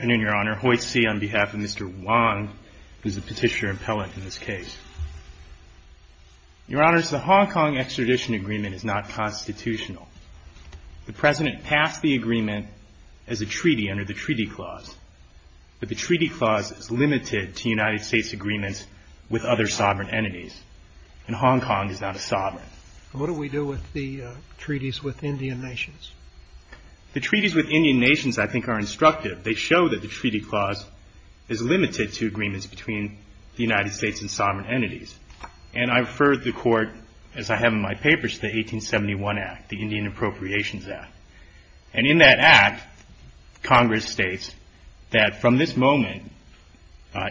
on behalf of Mr. Wong, who is the Petitioner Impellant in this case. Your Honors, the Hong Kong Extradition Agreement is not constitutional. The President passed the agreement as a treaty under the Treaty Clause, but the Treaty Clause is limited to United States agreements with other sovereign entities, and Hong Kong is not a sovereign. And what do we do with the treaties with Indian nations? The treaties with Indian nations, I think, are instructive. They show that the Treaty Clause is limited to agreements between the United States and sovereign entities. And I refer the Court, as I have in my papers, to the 1871 Act, the Indian Appropriations Act. And in that Act, Congress states that from this moment,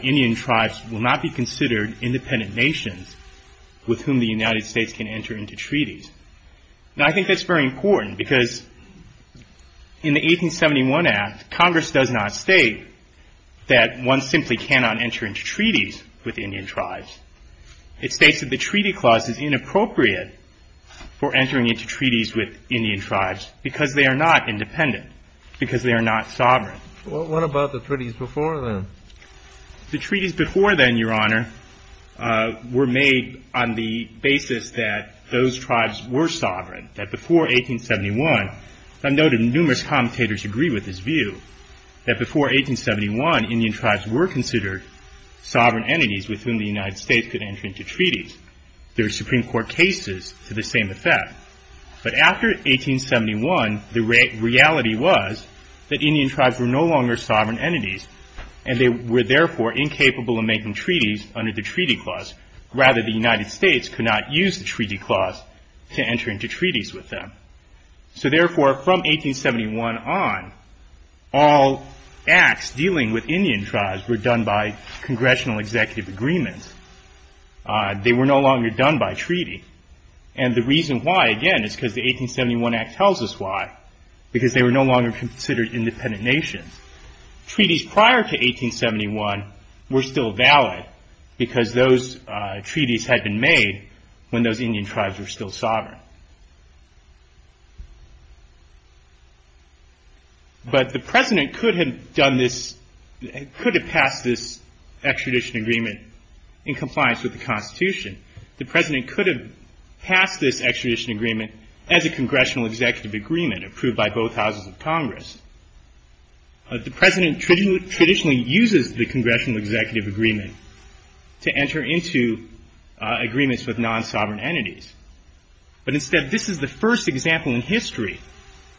Indian tribes will not be considered independent nations with whom the United States can enter into treaties. Now, I think that's very important, because in the 1871 Act, Congress does not state that one simply cannot enter into treaties with Indian tribes. It states that the Treaty Clause is inappropriate for entering into treaties with Indian tribes, because they are not independent, because they are not sovereign. What about the treaties before then? The treaties before then, Your Honor, were made on the basis that those tribes were sovereign, that before 1871, and I know that numerous commentators agree with this view, that before 1871, Indian tribes were considered sovereign entities with whom the United States could enter into treaties. There were Supreme Court cases to the same effect. But after 1871, the reality was that Indian tribes were no longer sovereign entities, and they were therefore incapable of making treaties under the Treaty Clause. Rather, the United States could not use the Treaty Clause to enter into treaties with them. So therefore, from 1871 on, all acts dealing with Indian tribes were done by Congressional Executive Agreements. They were no longer done by treaty. And the reason why, again, is because the 1871 Act tells us why, because they were no longer considered independent nations. Treaties prior to 1871 were still valid, because those treaties had been made when those Indian tribes were still sovereign. But the President could have passed this extradition agreement in compliance with the Constitution. The President could have passed this extradition agreement as a Congressional Executive Agreement approved by both houses of Congress. The President traditionally uses the Congressional Executive Agreement to enter into agreements with non-sovereign entities. But instead, this is the first example in history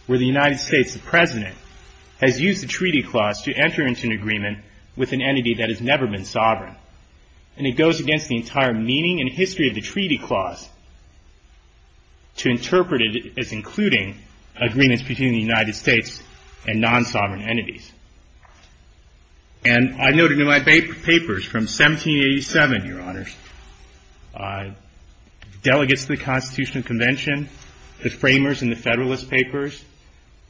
where the United States, the President, has used the Treaty Clause to enter into an agreement with an entity that has never been sovereign. And it goes against the entire meaning and history of the Treaty Clause to interpret it as including agreements between the United States and non-sovereign entities. And I noted in my papers from 1787, Your Honors, delegates to the Constitutional Convention, the framers in the Federalist Papers,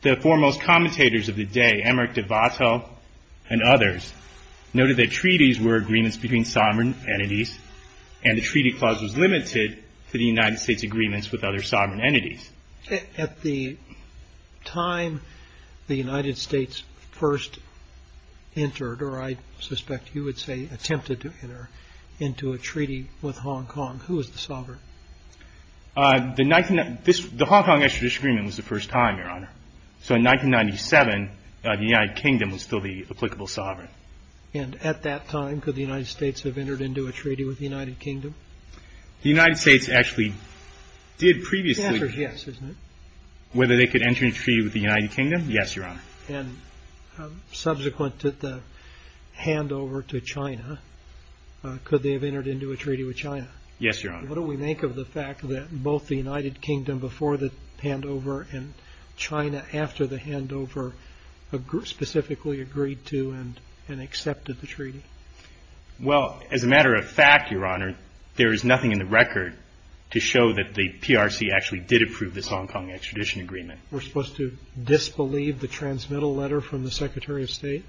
the foremost commentators of the day, Emmerich de Wattel and others, noted that treaties were agreements between sovereign entities, and the Treaty Clause was limited to the United States' agreements with other sovereign entities. At the time the United States first entered, or I suspect you would say attempted to enter into a treaty with Hong Kong, who was the sovereign? The Hong Kong Extrajudicial Agreement was the first time, Your Honor. So in 1997, the United Kingdom was still the applicable sovereign. And at that time, could the United States have entered into a treaty with the United Kingdom? The United States actually did previously... The answer is yes, isn't it? Whether they could enter into a treaty with the United Kingdom, yes, Your Honor. And subsequent to the handover to China, could they have entered into a treaty with China? Yes, Your Honor. But what do we make of the fact that both the United Kingdom before the handover and China after the handover specifically agreed to and accepted the treaty? Well as a matter of fact, Your Honor, there is nothing in the record to show that the PRC actually did approve this Hong Kong Extradition Agreement. We're supposed to disbelieve the transmittal letter from the Secretary of State?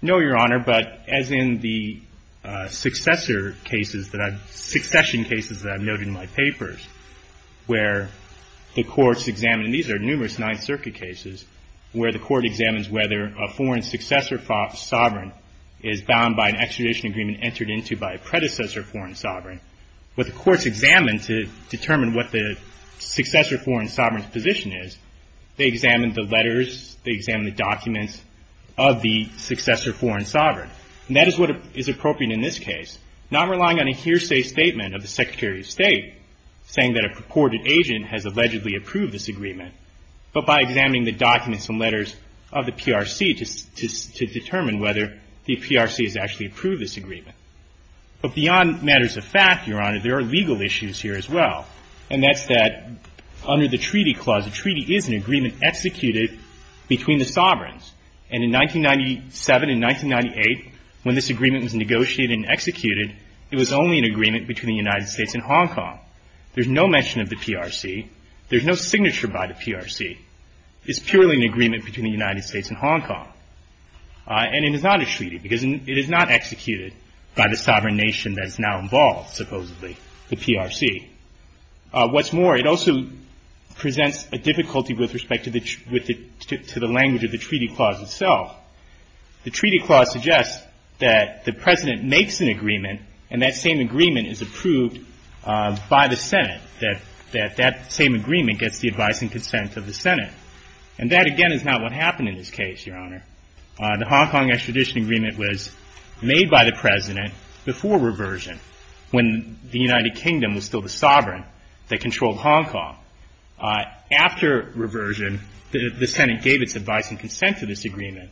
No, Your Honor, but as in the successor cases that I've...succession cases that I've noted in my papers, where the courts examine, and these are numerous Ninth Circuit cases, where the court examines whether a foreign successor sovereign is bound by an extradition agreement entered into by a predecessor foreign sovereign, what the courts examine to determine what the successor foreign sovereign's position is, they examine the letters, they examine the documents of the successor foreign sovereign. And that is what is appropriate in this case. Not relying on a hearsay statement of the Secretary of State saying that a purported agent has allegedly approved this agreement, but by examining the documents and letters of the PRC to determine whether the PRC has actually approved this agreement. But beyond matters of fact, Your Honor, there are legal issues here as well. And that's that under the Treaty Clause, a treaty is an agreement executed between the sovereigns. And in 1997 and 1998, when this agreement was negotiated and executed, it was only an agreement between the United States and Hong Kong. There's no mention of the PRC. There's no signature by the PRC. It's purely an agreement between the United States and Hong Kong. And it is not a treaty, because it is not executed by the sovereign nation that is now involved, supposedly, the PRC. What's more, it also presents a difficulty with respect to the language of the Treaty Clause itself. The Treaty Clause suggests that the President makes an agreement, and that same agreement is approved by the Senate, that that same agreement gets the advice and consent of the Senate. And that, again, is not what happened in this case, Your Honor. The Hong Kong extradition agreement was made by the President before reversion, when the President was the sovereign that controlled Hong Kong. After reversion, the Senate gave its advice and consent to this agreement.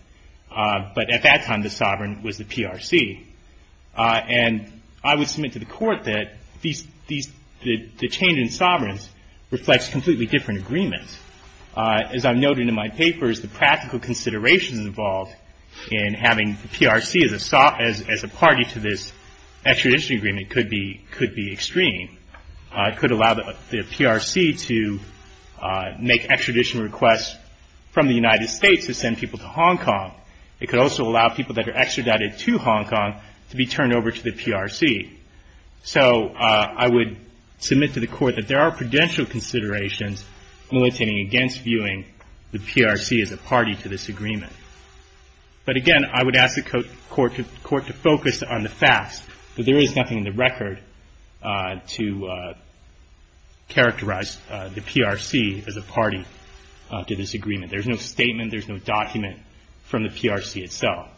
But at that time, the sovereign was the PRC. And I would submit to the Court that the change in sovereigns reflects completely different agreements. As I noted in my papers, the practical considerations involved in having the PRC as a party to this agreement are extremely extreme. It could allow the PRC to make extradition requests from the United States to send people to Hong Kong. It could also allow people that are extradited to Hong Kong to be turned over to the PRC. So I would submit to the Court that there are prudential considerations militating against viewing the PRC as a party to this agreement. But, again, I would ask the Court to focus on the facts, that there is nothing in the record to characterize the PRC as a party to this agreement. There's no statement. There's no document from the PRC itself.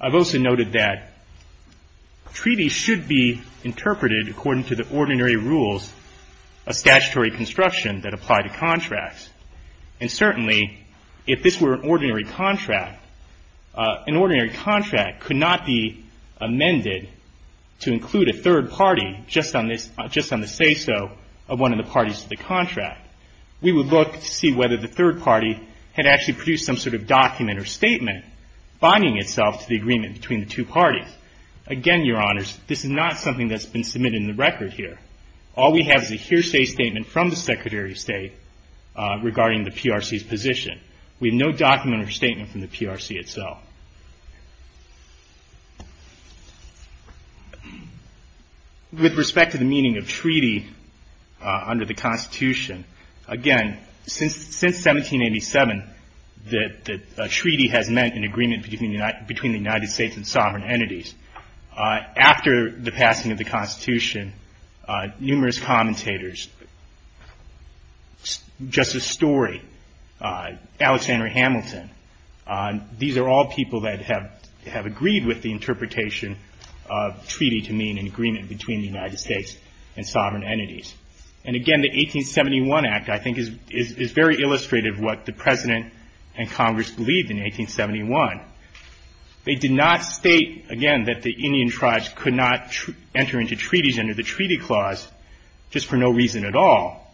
I've also noted that treaties should be interpreted according to the ordinary rules of statutory construction that apply to contracts. And certainly, if this were an ordinary contract, an ordinary contract could not be amended to include a third party just on the say-so of one of the parties to the contract. We would look to see whether the third party had actually produced some sort of document or statement binding itself to the agreement between the two parties. Again, Your Honors, this is not something that's been submitted in the record here. All we have is a hearsay statement from the Secretary of State regarding the PRC's position. We have no document or statement from the PRC itself. With respect to the meaning of treaty under the Constitution, again, since 1787, the treaty has meant an agreement between the United States and sovereign entities. After the passing of the Constitution, numerous commentators, Justice Story, Alexander Hamilton, these are all people that have agreed with the interpretation of treaty to mean an agreement between the United States and sovereign entities. And again, the 1871 Act, I think, is very illustrative of what the President and Congress believed in 1871. They did not state, again, that the Indian tribes could not enter into treaties under the Treaty Clause just for no reason at all.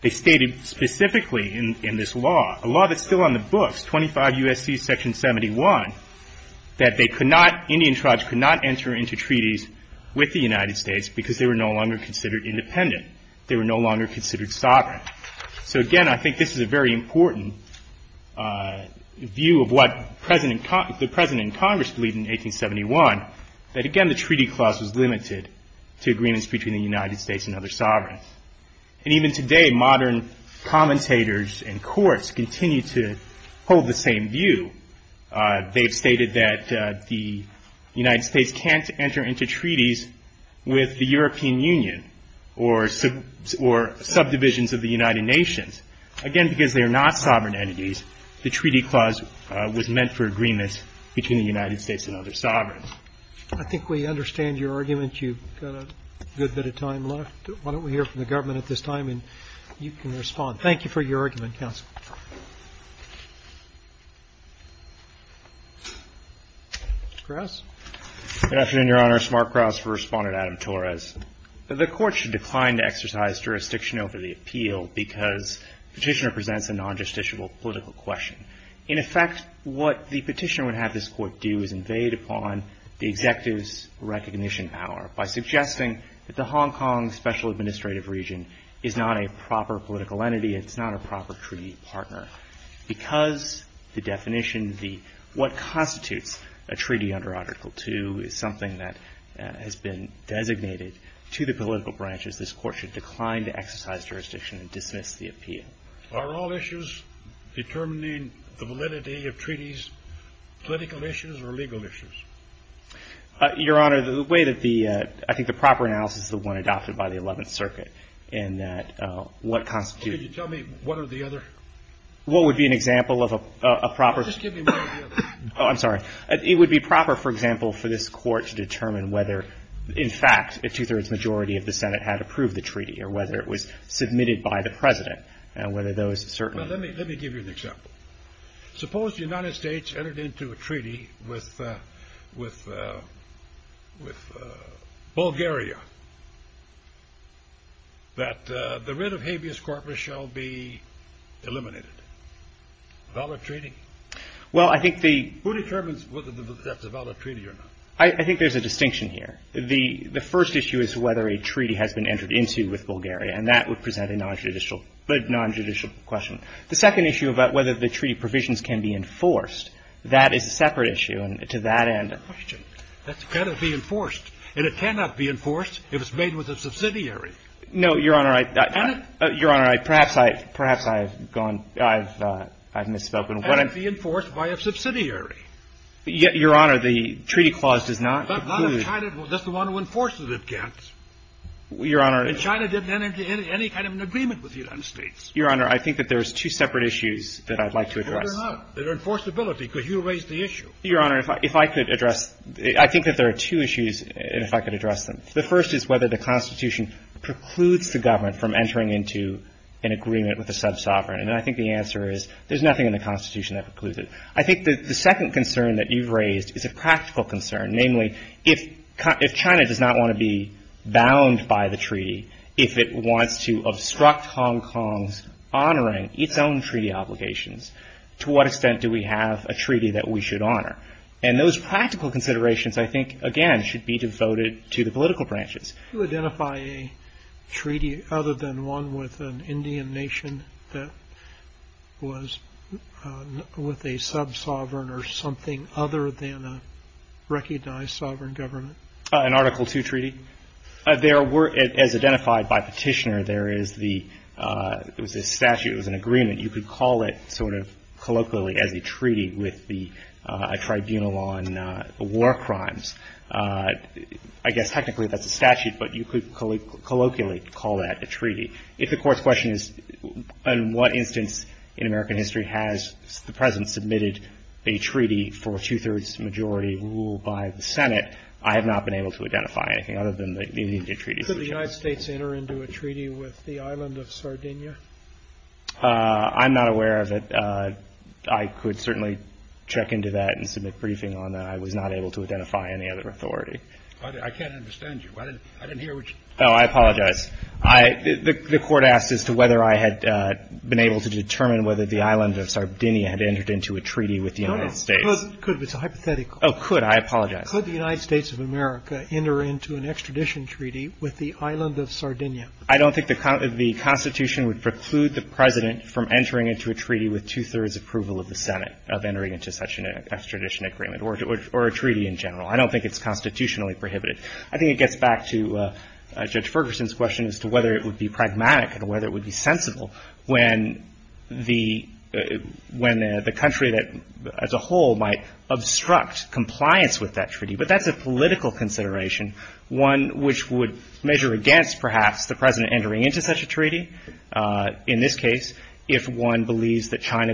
They stated specifically in this law, a law that's still on the books, 25 U.S.C. Section 71, that they could not, Indian tribes could not enter into treaties with the United States because they were no longer considered independent. They were no longer considered sovereign. So again, I think this is a very important view of what the President and Congress believed in 1871, that again, the Treaty Clause was limited to agreements between the United States and other sovereigns. And even today, modern commentators and courts continue to hold the same view. They have stated that the United States can't enter into treaties with the European Union or subdivisions of the United Nations. Again, because they are not sovereign entities, the Treaty Clause was meant for agreements between the United States and other sovereigns. Roberts. I think we understand your argument. You've got a good bit of time left. Why don't we hear from the government at this time, and you can respond. Thank you for your argument, counsel. Krauss. Good afternoon, Your Honor. Smart Krauss for Respondent Adam Torres. The Court should decline to exercise jurisdiction over the appeal because Petitioner presents a non-justiciable political question. In effect, what the Petitioner would have this Court do is invade upon the Executive's recognition power by suggesting that the Hong Kong Special Administrative Region is not a proper political entity, it's not a proper treaty partner. Because the definition, what constitutes a treaty under Article II is something that has been designated to the political branches, this Court should decline to exercise jurisdiction and dismiss the appeal. Are all issues determining the validity of treaties political issues or legal issues? Your Honor, the way that the, I think the proper analysis is the one adopted by the Eleventh Circuit in that what constitutes. Could you tell me what are the other? What would be an example of a proper? Just give me what are the other. Oh, I'm sorry. It would be proper, for example, for this Court to determine whether, in fact, a two-thirds majority of the Senate had approved the treaty or whether it was submitted by the President and whether those certainly. Well, let me give you an example. Suppose the United States entered into a treaty with Bulgaria that the writ of habeas corpus shall be eliminated, valid treaty? Well, I think the... Who determines whether that's a valid treaty or not? I think there's a distinction here. The first issue is whether a treaty has been entered into with Bulgaria and that would present a non-judicial question. The second issue about whether the treaty provisions can be enforced, that is a separate issue and to that end... That's a good question. That's got to be enforced and it cannot be enforced if it's made with a subsidiary. No, Your Honor, perhaps I've gone, I've misspoken. It can't be enforced by a subsidiary. Your Honor, the treaty clause does not include... Not if China, just the one who enforces it can't. Your Honor... And China didn't enter into any kind of an agreement with the United States. Your Honor, I think that there's two separate issues that I'd like to address. Well, there are not. There are enforceability because you raised the issue. Your Honor, if I could address, I think that there are two issues if I could address them. The first is whether the Constitution precludes the government from entering into an agreement with a sub-sovereign. And I think the answer is there's nothing in the Constitution that precludes it. I think that the second concern that you've raised is a practical concern, namely if China does not want to be bound by the treaty, if it wants to obstruct Hong Kong's honoring its own treaty obligations, to what extent do we have a treaty that we should honor? And those practical considerations, I think, again, should be devoted to the political branches. Do you identify a treaty other than one with an Indian nation that was with a sub-sovereign or something other than a recognized sovereign government? An Article II treaty? As identified by Petitioner, there is the statute, it was an agreement. You could call it sort of colloquially as a treaty with the tribunal on war crimes. I guess technically that's a statute, but you could colloquially call that a treaty. If the court's question is, in what instance in American history has the President submitted a treaty for a two-thirds majority rule by the Senate, I have not been able to identify anything other than the Indian treaty. Could the United States enter into a treaty with the island of Sardinia? I'm not aware of it. I could certainly check into that and submit a briefing on that. I was not able to identify any other authority. I can't understand you. I didn't hear what you said. Oh, I apologize. The court asked as to whether I had been able to determine whether the island of Sardinia had entered into a treaty with the United States. No, no, could, but it's a hypothetical. Oh, could. I apologize. Could the United States of America enter into an extradition treaty with the island of Sardinia? I don't think the Constitution would preclude the President from entering into a treaty with two-thirds approval of the Senate of entering into such an extradition agreement or a treaty in general. I don't think it's constitutionally prohibited. I think it gets back to Judge Ferguson's question as to whether it would be pragmatic and whether it would be sensible when the country as a whole might obstruct compliance with that treaty. But that's a political consideration, one which would measure against, perhaps, the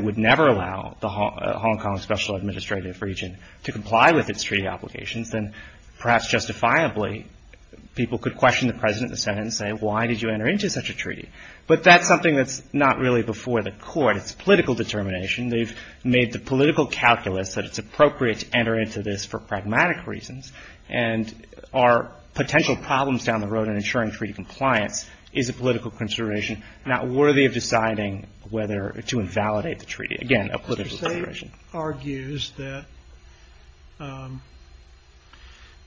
would never allow the Hong Kong Special Administrative Region to comply with its treaty obligations, then perhaps justifiably people could question the President and the Senate and say, why did you enter into such a treaty? But that's something that's not really before the court. It's political determination. They've made the political calculus that it's appropriate to enter into this for pragmatic reasons. And our potential problems down the road in ensuring treaty compliance is a political consideration not worthy of deciding whether to invalidate the treaty. Again, a political consideration. The USAID argues that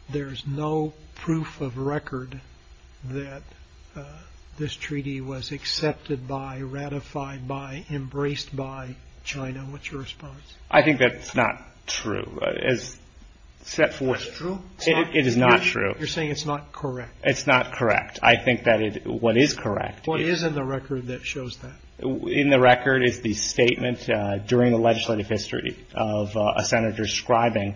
there's no proof of record that this treaty was accepted by, ratified by, embraced by China. What's your response? I think that's not true. As set forth... It's true? It is not true. You're saying it's not correct. It's not correct. I think that what is correct... What is in the record that shows that? In the record is the statement during the legislative history of a senator describing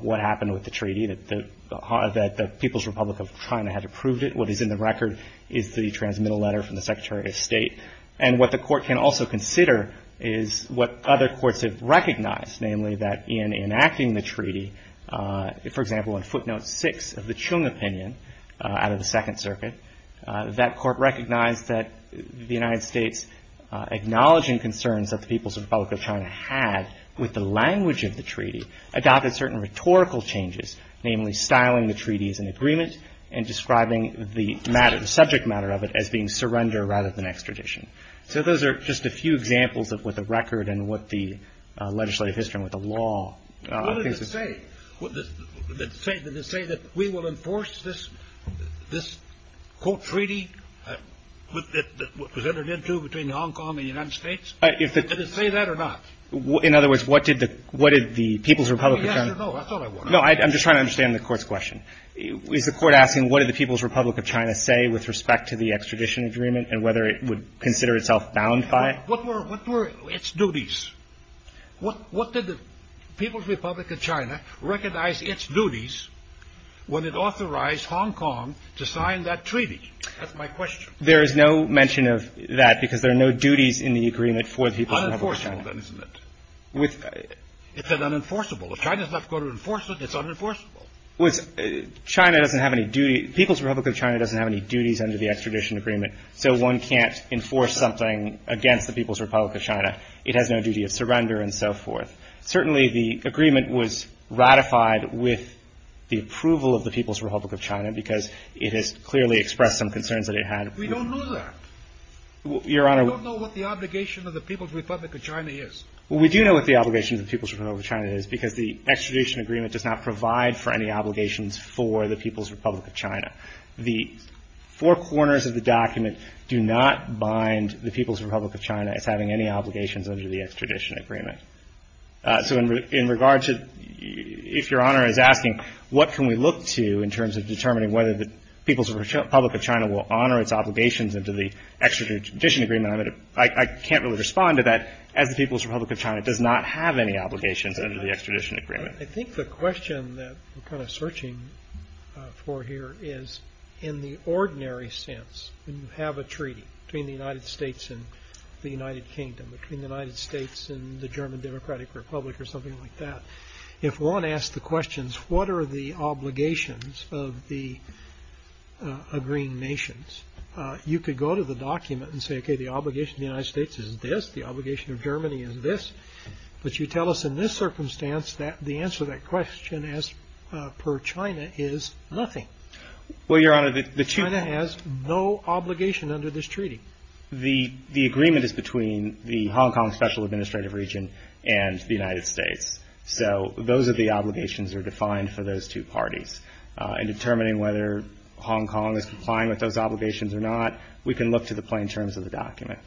what happened with the treaty, that the People's Republic of China had approved it. What is in the record is the transmittal letter from the Secretary of State. And what the court can also consider is what other courts have recognized, namely that in enacting the treaty, for example, in footnote six of the Chung opinion out of the Second Circuit, that court recognized that the United States, acknowledging concerns that the People's Republic of China had with the language of the treaty, adopted certain rhetorical changes, namely styling the treaty as an agreement and describing the subject matter of it as being surrender rather than extradition. So those are just a few examples of what the record and what the legislative history and the law... What did it say? Did it say that we will enforce this, quote, treaty that was entered into between Hong Kong and the United States? Did it say that or not? In other words, what did the People's Republic of China... Yes or no? That's all I want to know. No, I'm just trying to understand the court's question. Is the court asking what did the People's Republic of China say with respect to the extradition agreement and whether it would consider itself bound by it? What were its duties? What did the People's Republic of China recognize its duties when it authorized Hong Kong to sign that treaty? That's my question. There is no mention of that because there are no duties in the agreement for the People's Republic of China. Unenforceable, then, isn't it? It's an unenforceable. If China's not going to enforce it, it's unenforceable. China doesn't have any duty. People's Republic of China doesn't have any duties under the extradition agreement. So one can't enforce something against the People's Republic of China. It has no duty of surrender and so forth. Certainly the agreement was ratified with the approval of the People's Republic of China because it has clearly expressed some concerns that it had. We don't know that. Your Honor... We don't know what the obligation of the People's Republic of China is. We do know what the obligation of the People's Republic of China is because the extradition agreement does not provide for any obligations for the People's Republic of China. The four corners of the document do not bind the People's Republic of China as having any obligations under the extradition agreement. So in regards to... If Your Honor is asking, what can we look to in terms of determining whether the People's Republic of China will honor its obligations under the extradition agreement, I can't really respond to that. As the People's Republic of China does not have any obligations under the extradition agreement. I think the question that we're kind of searching for here is, in the ordinary sense, when you United States and the German Democratic Republic or something like that, if one asks the questions, what are the obligations of the agreeing nations? You could go to the document and say, okay, the obligation of the United States is this. The obligation of Germany is this. But you tell us in this circumstance that the answer to that question as per China is nothing. Well, Your Honor, the... China has no obligation under this treaty. The agreement is between the Hong Kong Special Administrative Region and the United States. So those are the obligations that are defined for those two parties. In determining whether Hong Kong is complying with those obligations or not, we can look to the plain terms of the document.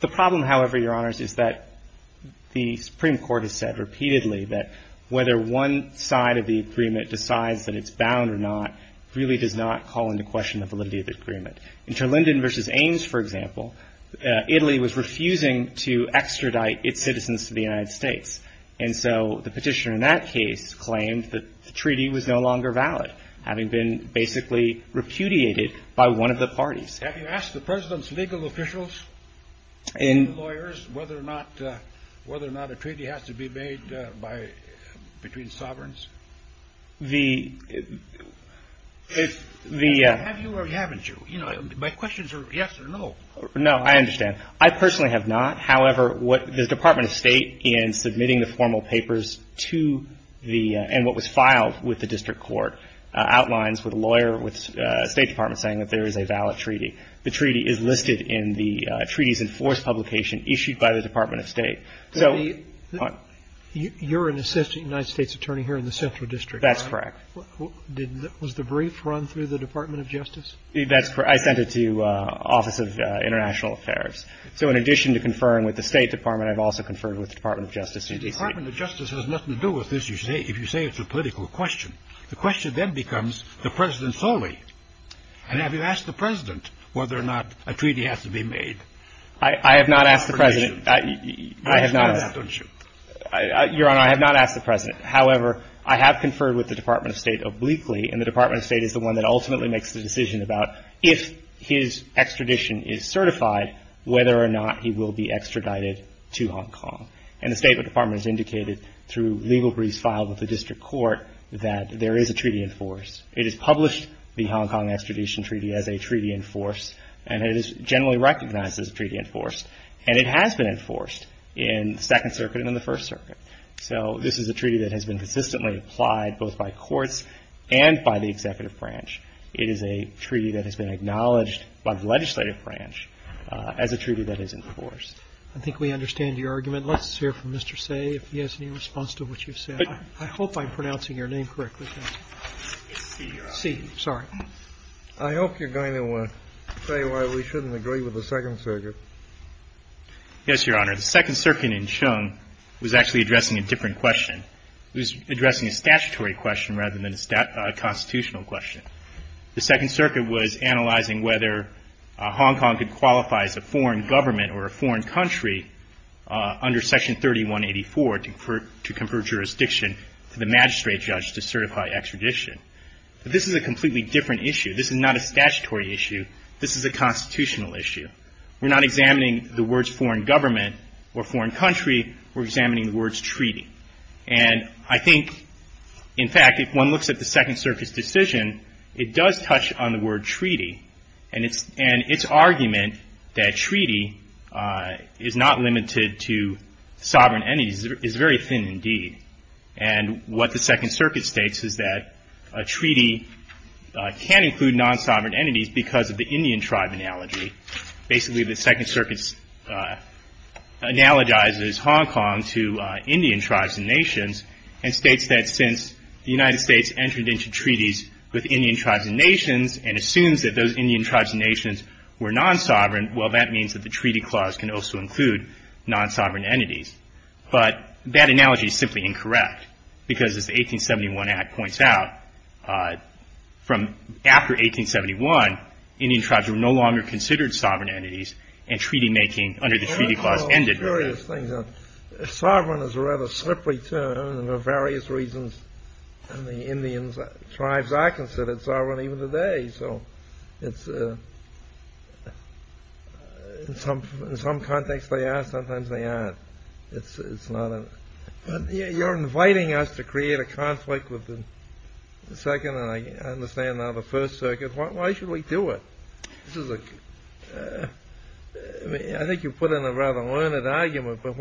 The problem, however, Your Honors, is that the Supreme Court has said repeatedly that whether one side of the agreement decides that it's bound or not really does not call into question the validity of the agreement. In Terlinden v. Ames, for example, Italy was refusing to extradite its citizens to the United States. And so the petitioner in that case claimed that the treaty was no longer valid, having been basically repudiated by one of the parties. Have you asked the President's legal officials and lawyers whether or not a treaty has to be made between sovereigns? The... Have you or haven't you? You know, my questions are yes or no. No. I understand. I personally have not. However, the Department of State, in submitting the formal papers to the... and what was filed with the district court, outlines with a lawyer with the State Department saying that there is a valid treaty. The treaty is listed in the treaty's enforced publication issued by the Department of State. So... You're an assistant United States attorney here in the Central District. That's correct. Was the brief run through the Department of Justice? That's correct. I sent it to the Office of International Affairs. So in addition to conferring with the State Department, I've also conferred with the Department of Justice in DC. The Department of Justice has nothing to do with this, you say, if you say it's a political question. The question then becomes the President's only. And have you asked the President whether or not a treaty has to be made? I have not asked the President. I have not asked... You've done that, don't you? Your Honor, I have not asked the President. However, I have conferred with the Department of State obliquely and the Department of State is the one that ultimately makes the decision about if his extradition is certified, whether or not he will be extradited to Hong Kong. And the State Department has indicated through legal briefs filed with the district court that there is a treaty enforced. It is published, the Hong Kong Extradition Treaty, as a treaty enforced and it is generally recognized as a treaty enforced. And it has been enforced in the Second Circuit and in the First Circuit. So this is a treaty that has been consistently applied both by courts and by the executive branch. It is a treaty that has been acknowledged by the legislative branch as a treaty that is enforced. I think we understand your argument. Let's hear from Mr. Tse if he has any response to what you've said. I hope I'm pronouncing your name correctly. It's Tse, Your Honor. Tse, sorry. I hope you're going to say why we shouldn't agree with the Second Circuit. Yes, Your Honor. The Second Circuit in Chung was actually addressing a different question. It was addressing a statutory question rather than a constitutional question. The Second Circuit was analyzing whether Hong Kong could qualify as a foreign government or a foreign country under Section 3184 to confer jurisdiction to the magistrate judge to certify extradition. This is a completely different issue. This is not a statutory issue. This is a constitutional issue. We're not examining the words foreign government or foreign country. We're examining the words treaty. And I think, in fact, if one looks at the Second Circuit's decision, it does touch on the word treaty. And its argument that treaty is not limited to sovereign entities is very thin indeed. And what the Second Circuit states is that a treaty can include non-sovereign entities because of the Indian tribe analogy. Basically, the Second Circuit analogizes Hong Kong to Indian tribes and nations and states that since the United States entered into treaties with Indian tribes and nations and assumes that those Indian tribes and nations were non-sovereign, well, that means that the treaty clause can also include non-sovereign entities. But that analogy is simply incorrect. Because, as the 1871 Act points out, from after 1871, Indian tribes were no longer considered sovereign entities and treaty making under the treaty clause ended. Well, curious thing. Sovereign is a rather slippery term for various reasons. And the Indian tribes are considered sovereign even today. So in some context, they are. Sometimes they aren't. It's not a... You're inviting us to create a conflict with the Second and I understand now the First Circuit. Why should we do it? I think you put in a rather learned argument. But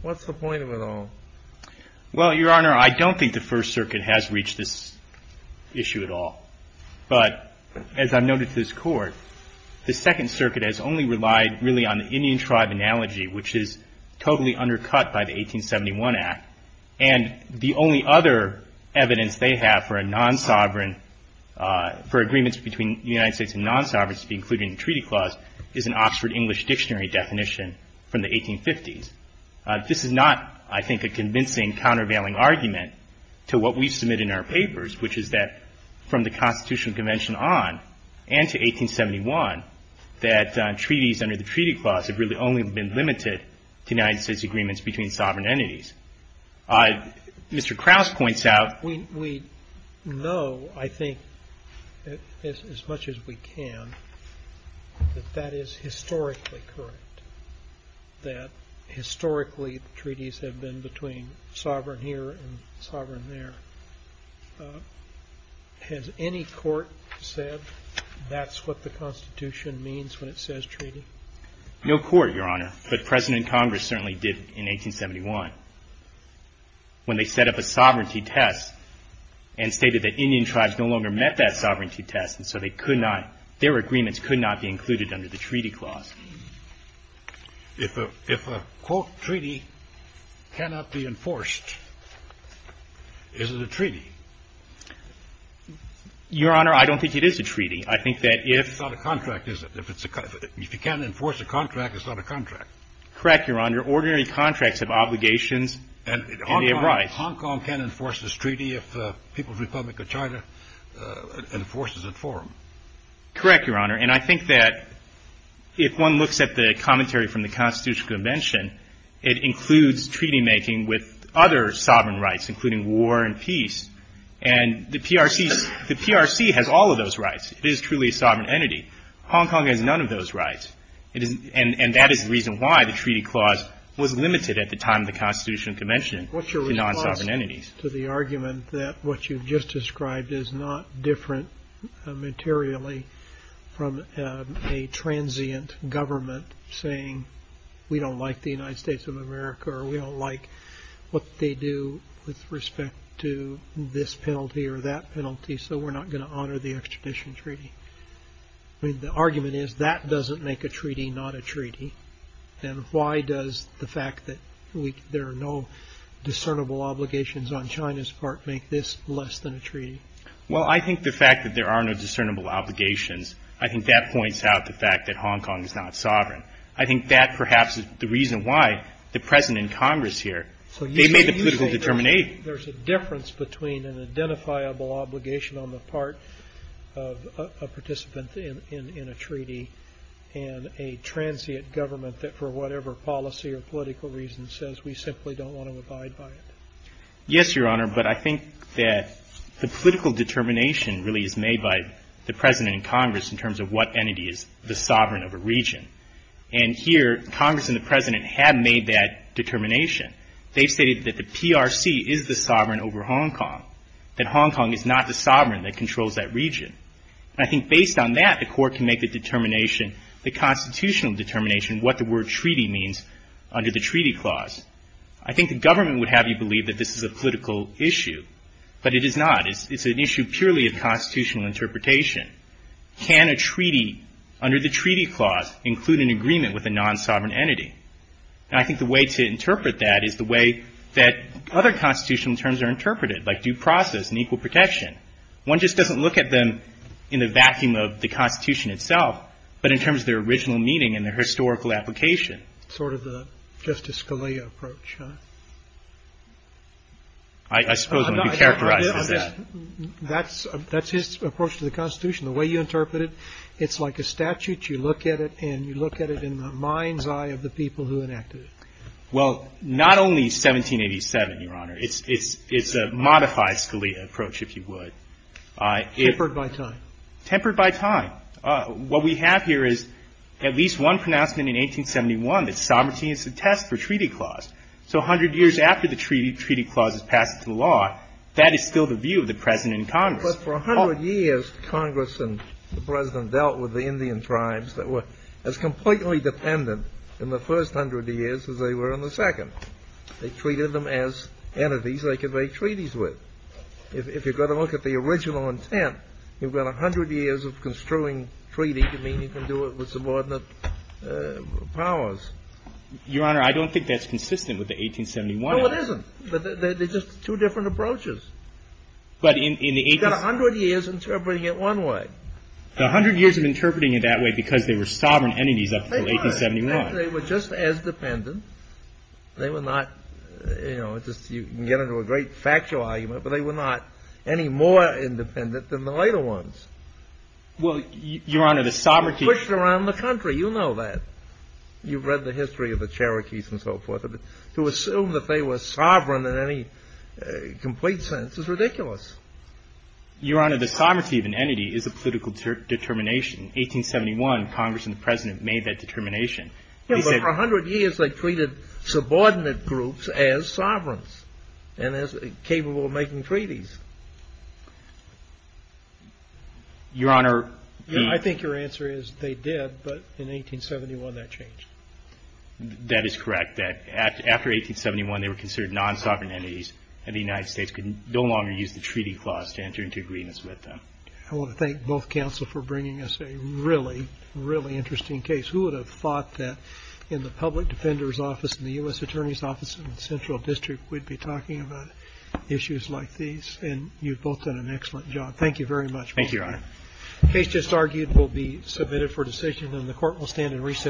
what's the point of it all? Well, Your Honor, I don't think the First Circuit has reached this issue at all. But as I've noted to this Court, the Second Circuit has only relied really on the Indian Act and the only other evidence they have for a non-sovereign, for agreements between the United States and non-sovereigns to be included in the treaty clause is an Oxford English Dictionary definition from the 1850s. This is not, I think, a convincing countervailing argument to what we've submitted in our papers, which is that from the Constitutional Convention on and to 1871, that treaties under the treaty clause have really only been limited to United States agreements between sovereign entities. Mr. Krauss points out... We know, I think, as much as we can, that that is historically correct, that historically treaties have been between sovereign here and sovereign there. Has any court said that's what the Constitution means when it says treaty? No court, Your Honor. But President and Congress certainly did in 1871 when they set up a sovereignty test and stated that Indian tribes no longer met that sovereignty test and so they could not, their agreements could not be included under the treaty clause. If a, if a, quote, treaty cannot be enforced, is it a treaty? Your Honor, I don't think it is a treaty. I think that if... It's not a contract, is it? If you can't enforce a contract, it's not a contract. Correct, Your Honor. Ordinary contracts have obligations and they have rights. Hong Kong can't enforce this treaty if the People's Republic of China enforces it for them. Correct, Your Honor. And I think that if one looks at the commentary from the Constitutional Convention, it includes treaty making with other sovereign rights, including war and peace. And the PRC, the PRC has all of those rights. It is truly a sovereign entity. Hong Kong has none of those rights. It is, and that is the reason why the treaty clause was limited at the time of the Constitutional Convention to non-sovereign entities. What's your response to the argument that what you've just described is not different materially from a transient government saying, we don't like the United States of America or we don't like what they do with respect to this penalty or that penalty, so we're not going to honor the extradition treaty? The argument is that doesn't make a treaty not a treaty. And why does the fact that there are no discernible obligations on China's part make this less than a treaty? Well, I think the fact that there are no discernible obligations, I think that points out the fact that Hong Kong is not sovereign. I think that perhaps is the reason why the President and Congress here, they made the political determination. There's a difference between an identifiable obligation on the part of a participant in a treaty and a transient government that for whatever policy or political reason says we simply don't want to abide by it. Yes, Your Honor, but I think that the political determination really is made by the President and Congress in terms of what entity is the sovereign of a region. And here, Congress and the President have made that determination. They've stated that the PRC is the sovereign over Hong Kong, that Hong Kong is not the sovereign that controls that region. And I think based on that, the Court can make the determination, the constitutional determination what the word treaty means under the Treaty Clause. I think the government would have you believe that this is a political issue, but it is not. It's an issue purely of constitutional interpretation. Can a treaty under the Treaty Clause include an agreement with a non-sovereign entity? And I think the way to interpret that is the way that other constitutional terms are interpreted, like due process and equal protection. One just doesn't look at them in the vacuum of the Constitution itself, but in terms of their original meaning and their historical application. Sort of the Justice Scalia approach, huh? I suppose it would be characterized as that. That's his approach to the Constitution. The way you interpret it, it's like a statute. You look at it and you look at it in the mind's eye of the people who enacted it. Well, not only 1787, Your Honor. It's a modified Scalia approach, if you would. Tempered by time. Tempered by time. What we have here is at least one pronouncement in 1871 that sovereignty is a test for Treaty Clause. So 100 years after the Treaty Clause is passed into law, that is still the view of the President and Congress. But for 100 years, Congress and the President dealt with the Indian tribes that were completely dependent in the first 100 years as they were in the second. They treated them as entities they could make treaties with. If you're going to look at the original intent, you've got 100 years of construing treaty to mean you can do it with subordinate powers. Your Honor, I don't think that's consistent with the 1871. No, it isn't. They're just two different approaches. But in the 18— You've got 100 years interpreting it one way. The 100 years of interpreting it that way because they were sovereign entities up until 1871. They were just as dependent. They were not, you know, you can get into a great factual argument, but they were not any more independent than the later ones. Well, Your Honor, the sovereignty— Pushed around the country. You know that. You've read the history of the Cherokees and so forth. To assume that they were sovereign in any complete sense is ridiculous. Your Honor, the sovereignty of an entity is a political determination. 1871, Congress and the President made that determination. They said— But for 100 years, they treated subordinate groups as sovereigns and as capable of making treaties. Your Honor— I think your answer is they did, but in 1871, that changed. That is correct. That after 1871, they were considered non-sovereign entities and the United States could no longer use the treaty clause to enter into agreements with them. I want to thank both counsel for bringing us a really, really interesting case. Who would have thought that in the Public Defender's Office and the U.S. Attorney's Office in the Central District, we'd be talking about issues like these? And you've both done an excellent job. Thank you very much. Thank you, Your Honor. The case just argued will be submitted for decision and the Court will stand in reciprocity.